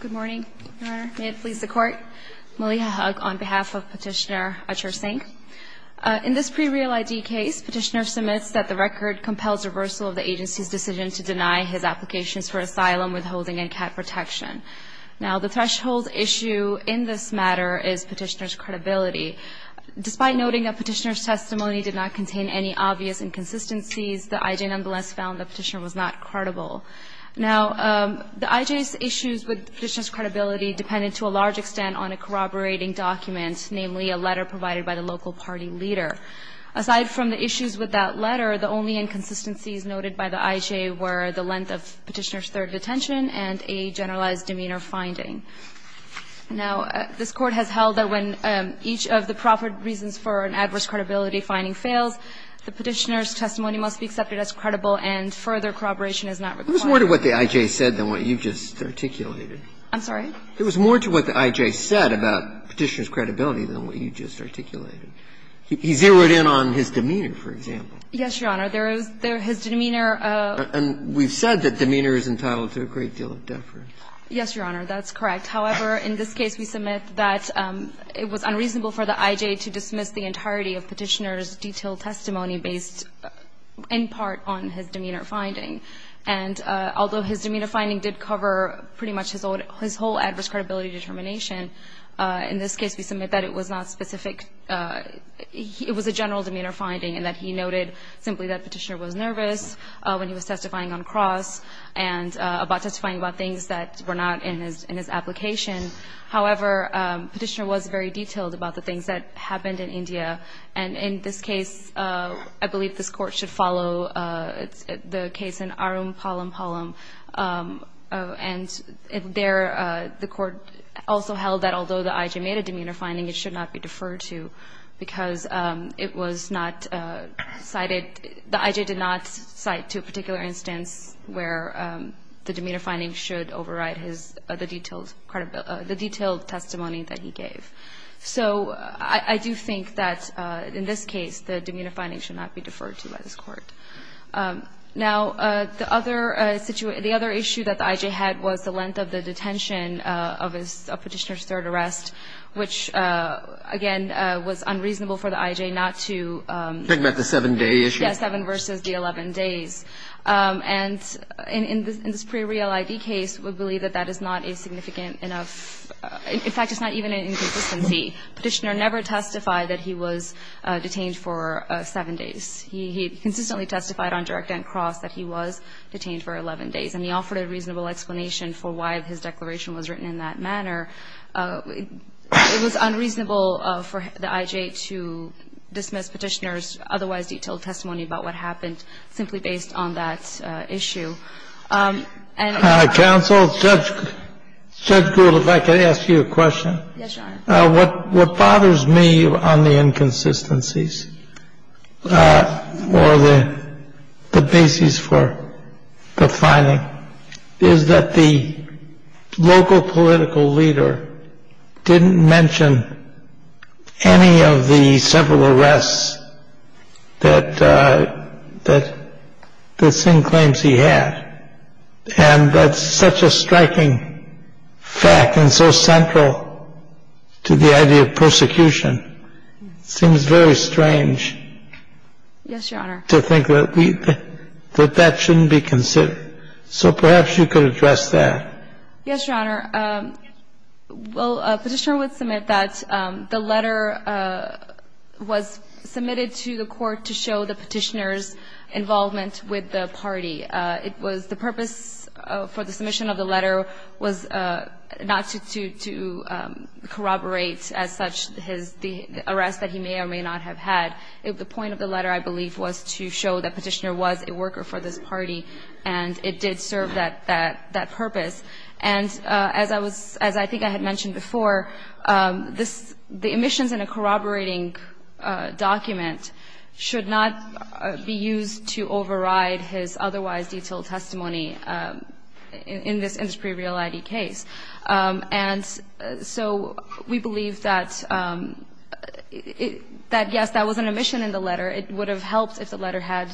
Good morning, Your Honor. May it please the Court. Maliha Hugg on behalf of Petitioner Achhar Singh. In this pre-real ID case, Petitioner submits that the record compels reversal of the agency's decision to deny his applications for asylum withholding and cat protection. Now, the threshold issue in this matter is Petitioner's credibility. Despite noting that Petitioner's testimony did not contain any obvious inconsistencies, the IJ nonetheless found that Petitioner was not credible. Now, the IJ's issues with Petitioner's credibility depended to a large extent on a corroborating document, namely a letter provided by the local party leader. Aside from the issues with that letter, the only inconsistencies noted by the IJ were the length of Petitioner's third detention and a generalized demeanor finding. Now, this Court has held that when each of the proper reasons for an adverse credibility finding fails, the Petitioner's testimony must be accepted as credible, and further corroboration is not required. Breyer. There was more to what the IJ said than what you just articulated. I'm sorry? There was more to what the IJ said about Petitioner's credibility than what you just articulated. He zeroed in on his demeanor, for example. Yes, Your Honor. There is his demeanor. And we've said that demeanor is entitled to a great deal of deference. Yes, Your Honor. That's correct. However, in this case, we submit that it was unreasonable for the IJ to dismiss the entirety of Petitioner's detailed testimony based in part on his demeanor finding. And although his demeanor finding did cover pretty much his whole adverse credibility determination, in this case, we submit that it was not specific. It was a general demeanor finding, in that he noted simply that Petitioner was nervous when he was testifying on cross and about testifying about things that were not in his application. However, Petitioner was very detailed about the things that happened in India. And in this case, I believe this Court should follow the case in Arun Palampalam. And there, the Court also held that although the IJ made a demeanor finding, it should not be deferred to, because it was not cited the IJ did not cite to a particular instance where the demeanor finding should override his other details, the detailed testimony that he gave. So I do think that in this case, the demeanor finding should not be deferred to by this Court. Now, the other situation the other issue that the IJ had was the length of the detention of Petitioner's third arrest, which, again, was unreasonable for the IJ not to Think about the 7-day issue? Yes, 7 versus the 11 days. And in this pre-real ID case, we believe that that is not a significant enough In fact, it's not even in consistency. Petitioner never testified that he was detained for 7 days. He consistently testified on direct and cross that he was detained for 11 days. And he offered a reasonable explanation for why his declaration was written in that manner. It was unreasonable for the IJ to dismiss Petitioner's otherwise detailed testimony about what happened simply based on that issue. Counsel, Judge Gould, if I could ask you a question. Yes, Your Honor. What bothers me on the inconsistencies or the basis for the finding is that the local political leader didn't mention any of the several arrests that the Singh claims he had. And that's such a striking fact and so central to the idea of persecution. It seems very strange to think that that shouldn't be considered. So perhaps you could address that. Yes, Your Honor. Well, Petitioner would submit that the letter was submitted to the court to show the party. It was the purpose for the submission of the letter was not to corroborate as such his arrest that he may or may not have had. The point of the letter, I believe, was to show that Petitioner was a worker for this party, and it did serve that purpose. And as I was as I think I had mentioned before, this the omissions in a corroborating document should not be used to override his otherwise detailed testimony in this pre-real ID case. And so we believe that yes, that was an omission in the letter. It would have helped if the letter had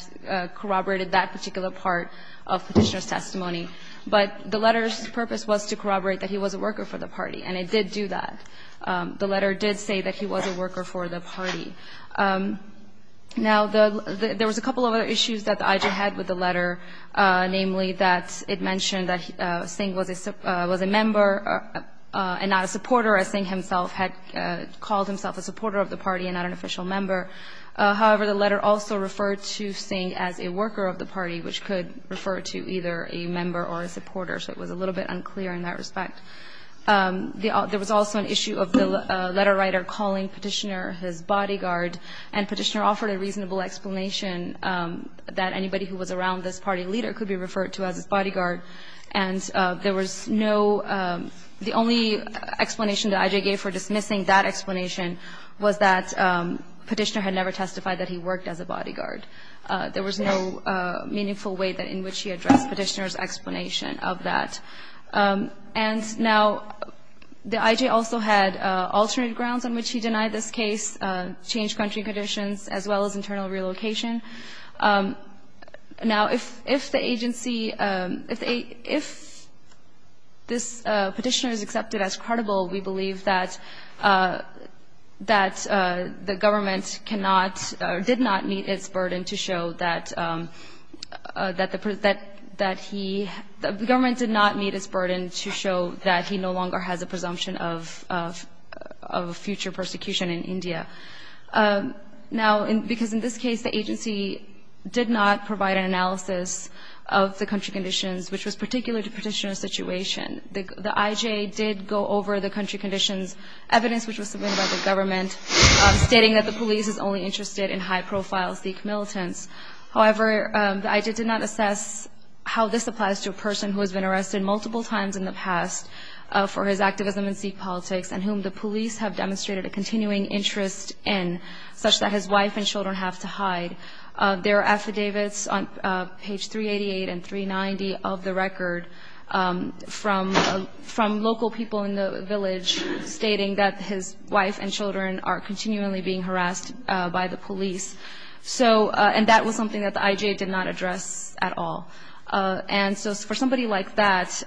corroborated that particular part of Petitioner's testimony. But the letter's purpose was to corroborate that he was a worker for the party, and it did do that. The letter did say that he was a worker for the party. Now, there was a couple of other issues that the IG had with the letter, namely that it mentioned that Singh was a member and not a supporter, as Singh himself had called himself a supporter of the party and not an official member. However, the letter also referred to Singh as a worker of the party, which could refer to either a member or a supporter. So it was a little bit unclear in that respect. There was also an issue of the letter writer calling Petitioner his bodyguard, and Petitioner offered a reasonable explanation that anybody who was around this party leader could be referred to as his bodyguard. And there was no the only explanation that IG gave for dismissing that explanation was that Petitioner had never testified that he worked as a bodyguard. There was no meaningful way in which he addressed Petitioner's explanation of that. And now, the IG also had alternate grounds on which he denied this case, changed country conditions, as well as internal relocation. Now, if the agency, if this Petitioner is accepted as credible, we believe that the government cannot or did not meet its burden to show that he, the government did not meet its burden to show that he no longer has a presumption of future persecution in India. Now, because in this case, the agency did not provide an analysis of the country conditions, which was particular to Petitioner's situation. The IG did go over the country conditions evidence, which was submitted by the government, stating that the police is only interested in high-profile Sikh militants. However, the IG did not assess how this applies to a person who has been arrested multiple times in the past for his activism in Sikh politics and whom the police have demonstrated a continuing interest in, such that his wife and children have to hide. There are affidavits on page 388 and 390 of the record from local people in the village stating that his wife and children are continually being harassed by the police. So and that was something that the IG did not address at all. And so for somebody like that,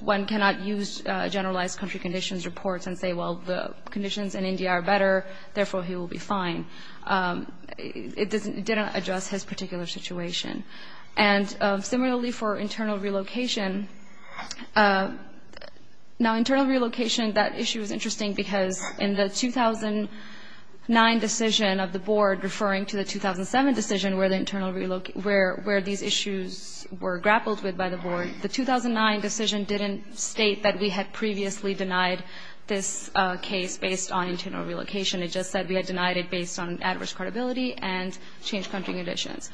one cannot use generalized country conditions reports and say, well, the conditions in India are better, therefore, he will be fine. It didn't address his particular situation. And similarly, for internal relocation. Now, internal relocation, that issue is interesting because in the 2009 decision of the board referring to the 2007 decision where the internal relocation, where these issues were grappled with by the board, the 2009 decision didn't state that we had previously denied this case based on internal relocation. It just said we had denied it based on adverse credibility and changed country conditions.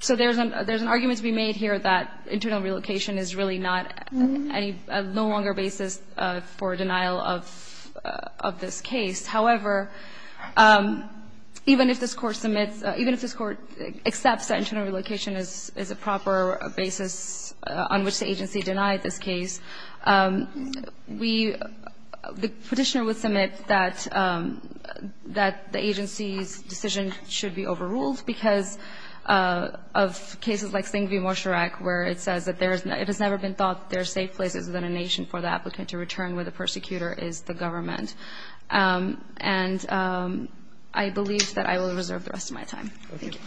So there's an there's an argument to be made here that internal relocation is really not any longer basis for denial of of this case. However, even if this court submits, even if this court accepts that internal relocation is is a proper basis on which the agency denied this case, we the petitioner would submit that that the agency's decision should be overruled because of cases like Singh v. Mosharak, where it says that it has never been thought there are safe places within a nation for the applicant to return where the persecutor is the government. And I believe that I will reserve the rest of my time. Thank you.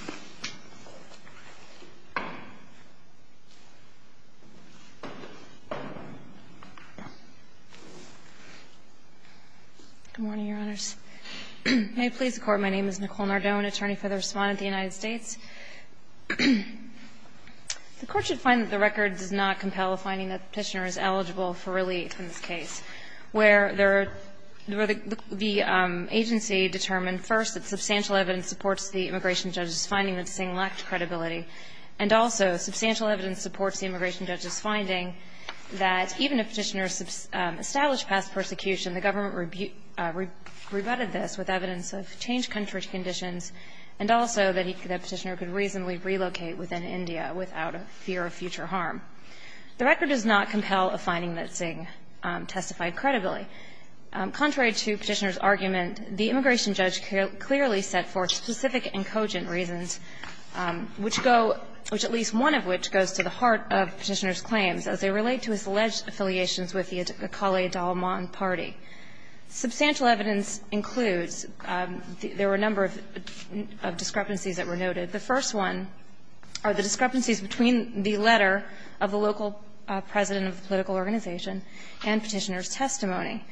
Nicole Nardone, Attorney for the Respondent, United States. The Court should find that the record does not compel a finding that the petitioner is eligible for relief in this case, where the agency determined, first, that substantial evidence supports the immigration judge's finding that Singh lacked credibility, and also substantial evidence supports the immigration judge's finding that even if the petitioner established past persecution, the government rebutted this with evidence of changed country conditions and also that the petitioner could reasonably relocate within India without a fear of future harm. The record does not compel a finding that Singh testified credibly. Contrary to Petitioner's argument, the immigration judge clearly set forth specific and cogent reasons, which go – which at least one of which goes to the heart of Petitioner's claims as they relate to his alleged affiliations with the Akali Dalman party. Substantial evidence includes – there were a number of discrepancies that were noted. The first one are the discrepancies between the letter of the local president of the political organization and Petitioner's testimony.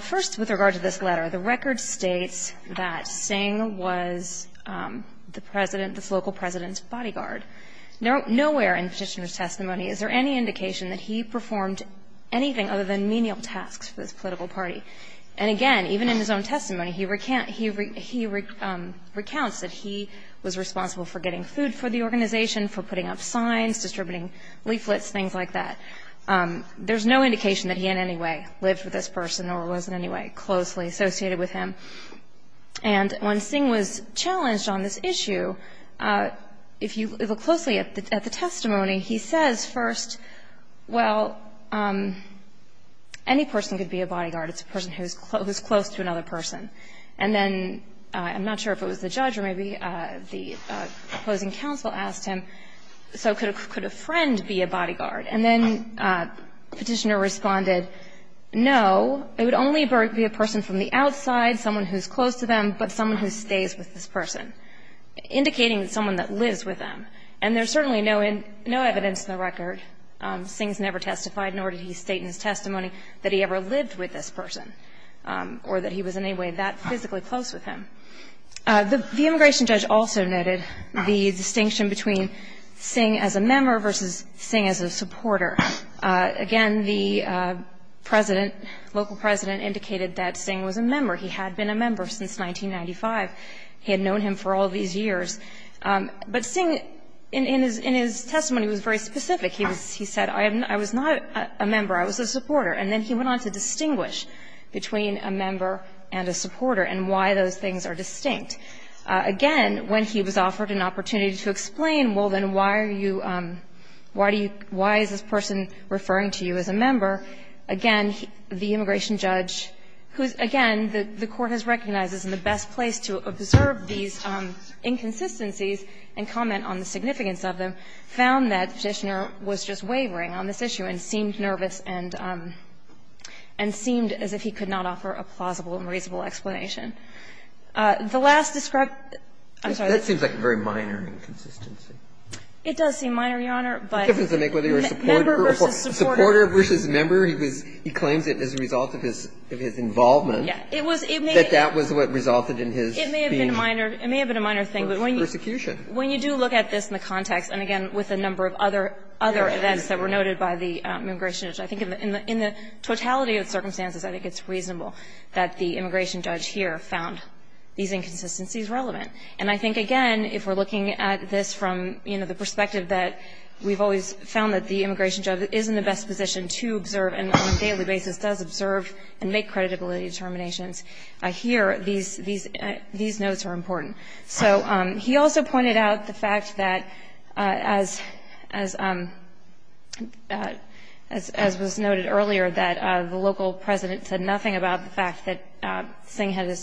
First, with regard to this letter, the record states that Singh was the president – the local president's bodyguard. Nowhere in Petitioner's testimony is there any indication that he performed anything other than menial tasks for this political party. And again, even in his own testimony, he recounts that he was responsible for getting food for the organization, for putting up signs, distributing leaflets, things like that. There's no indication that he in any way lived with this person or was in any way closely associated with him. And when Singh was challenged on this issue, if you look closely at the testimony, he says first, well, any person could be a bodyguard. It's a person who's close to another person. And then I'm not sure if it was the judge or maybe the opposing counsel asked him, so could a friend be a bodyguard? And then Petitioner responded, no, it would only be a person from the outside, someone who's close to them, but someone who stays with this person, indicating someone that lives with them. And there's certainly no evidence in the record, Singh's never testified, nor did he state in his testimony that he ever lived with this person or that he was in any way that physically close with him. The immigration judge also noted the distinction between Singh as a member versus Singh as a supporter. Again, the President, local President, indicated that Singh was a member. He had been a member since 1995. He had known him for all these years. But Singh, in his testimony, was very specific. He said, I was not a member, I was a supporter. And then he went on to distinguish between a member and a supporter and why those things are distinct. Again, when he was offered an opportunity to explain, well, then why are you – why do you – why is this person referring to you as a member, again, the immigration judge, who, again, the Court has recognized is in the best place to observe these inconsistencies and comment on the significance of them, found that the Petitioner was just wavering on this issue and seemed nervous and seemed as if he could not offer a plausible and reasonable explanation. The last described – I'm sorry. That seems like a very minor inconsistency. It does seem minor, Your Honor, but – What difference does it make whether you're a supporter or a supporter versus a member? He claims it as a result of his involvement, that that was what resulted in his being a member. I think that's a minor – it may have been a minor thing, but when you do look at this in the context, and again, with a number of other events that were noted by the immigration judge, I think in the totality of the circumstances, I think it's reasonable that the immigration judge here found these inconsistencies relevant. And I think, again, if we're looking at this from, you know, the perspective that we've always found that the immigration judge is in the best position to observe and on a daily basis does observe and make creditability determinations, here, these notes are important. So he also pointed out the fact that, as was noted earlier, that the local president said nothing about the fact that Singh had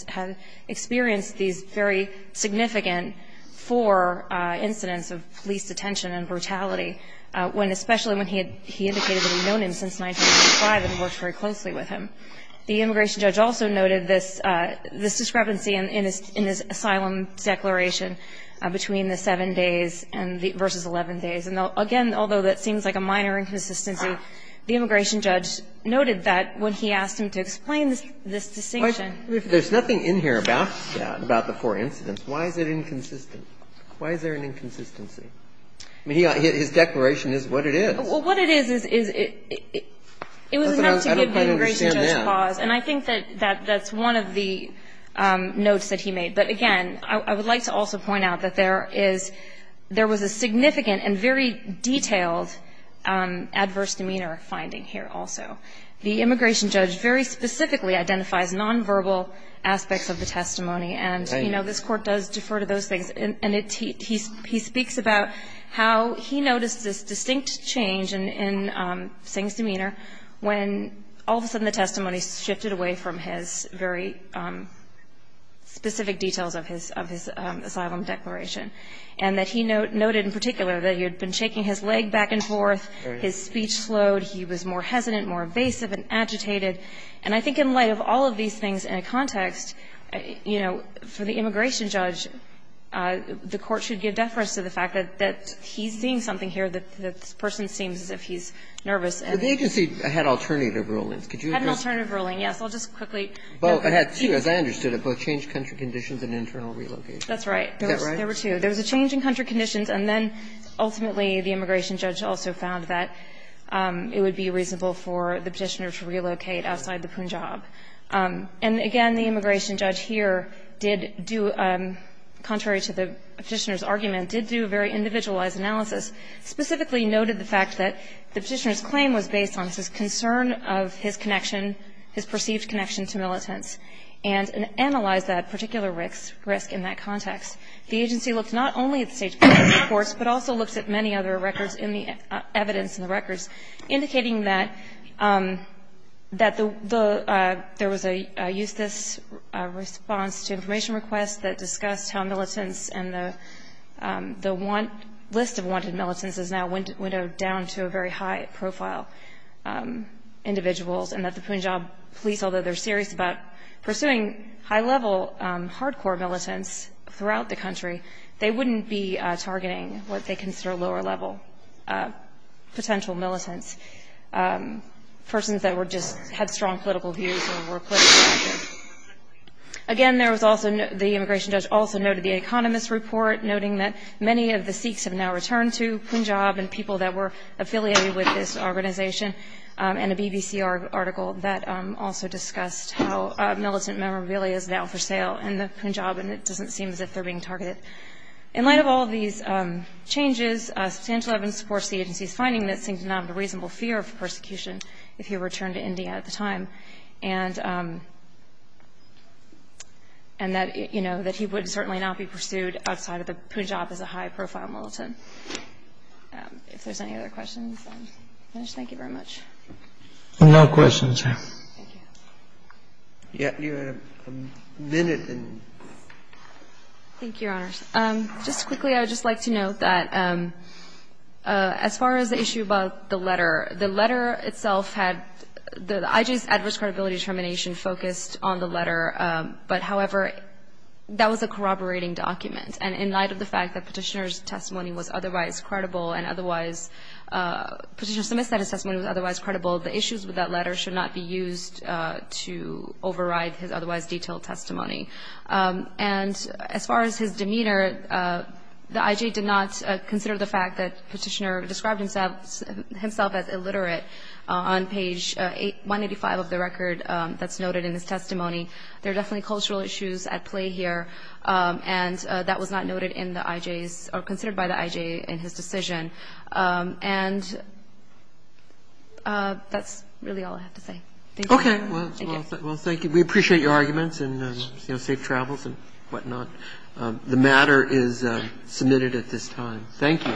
experienced these very significant four incidents of police detention and brutality, especially when he indicated that he'd known him since 1985 and worked very closely with him. The immigration judge also noted this discrepancy in his asylum declaration between the seven days versus 11 days. And again, although that seems like a minor inconsistency, the immigration judge noted that when he asked him to explain this distinction. If there's nothing in here about the four incidents, why is it inconsistent? Why is there an inconsistency? I mean, his declaration is what it is. Well, what it is is it was enough to give the immigration judge pause. And I think that that's one of the notes that he made. But again, I would like to also point out that there was a significant and very detailed adverse demeanor finding here also. The immigration judge very specifically identifies nonverbal aspects of the testimony. And, you know, this Court does defer to those things. And he speaks about how he noticed this distinct change in Singh's demeanor when all of a sudden the testimony shifted away from his very specific details of his asylum declaration. And that he noted in particular that he had been shaking his leg back and forth, his speech slowed, he was more hesitant, more evasive and agitated. And I think in light of all of these things in a context, you know, for the immigration judge, the Court should give deference to the fact that he's seeing something here that the person seems as if he's nervous. But the agency had alternative rulings. Could you address that? It had an alternative ruling, yes. I'll just quickly. Well, it had two, as I understood it. Both changed country conditions and internal relocation. That's right. Is that right? There were two. There was a change in country conditions, and then ultimately the immigration judge also found that it would be reasonable for the Petitioner to relocate outside the Punjab. And again, the immigration judge here did do, contrary to the Petitioner's argument, did do a very individualized analysis. Specifically noted the fact that the Petitioner's claim was based on his concern of his connection, his perceived connection to militants, and analyzed that particular risk in that context. The agency looked not only at the State Department's reports, but also looked at many other records in the evidence in the records, indicating that the government there was a Eustis response to information requests that discussed how militants and the list of wanted militants is now windowed down to a very high-profile individuals, and that the Punjab police, although they're serious about pursuing high-level, hardcore militants throughout the country, they wouldn't be targeting what they consider lower-level potential militants, persons that just had strong political views or were politically active. Again, there was also, the immigration judge also noted the Economist report, noting that many of the Sikhs have now returned to Punjab, and people that were affiliated with this organization, and a BBC article that also discussed how militant memorabilia is now for sale in the Punjab, and it doesn't seem as if they're being targeted. In light of all these changes, substantial evidence supports the agency's finding that Singh did not have a reasonable fear of persecution if he returned to India at the time, and that he would certainly not be pursued outside of the Punjab as a high-profile militant. If there's any other questions, I'll just thank you very much. No questions. You had a minute. Thank you, Your Honors. Just quickly, I would just like to note that, as far as the issue about the letter, the letter itself had, the IG's adverse credibility determination focused on the letter, but however, that was a corroborating document, and in light of the fact that Petitioner's testimony was otherwise credible, and otherwise, Petitioner Sumit said his testimony was otherwise credible, the issues with that letter should not be used to override his otherwise detailed testimony. And as far as his demeanor, the IG did not consider the fact that Petitioner described himself as illiterate on page 185 of the record that's noted in his testimony. There are definitely cultural issues at play here, and that was not noted in the IG's, or considered by the IG in his decision. And that's really all I have to say. Thank you. Okay. Well, thank you. We appreciate your arguments, and safe travels and whatnot. The matter is submitted at this time. Thank you.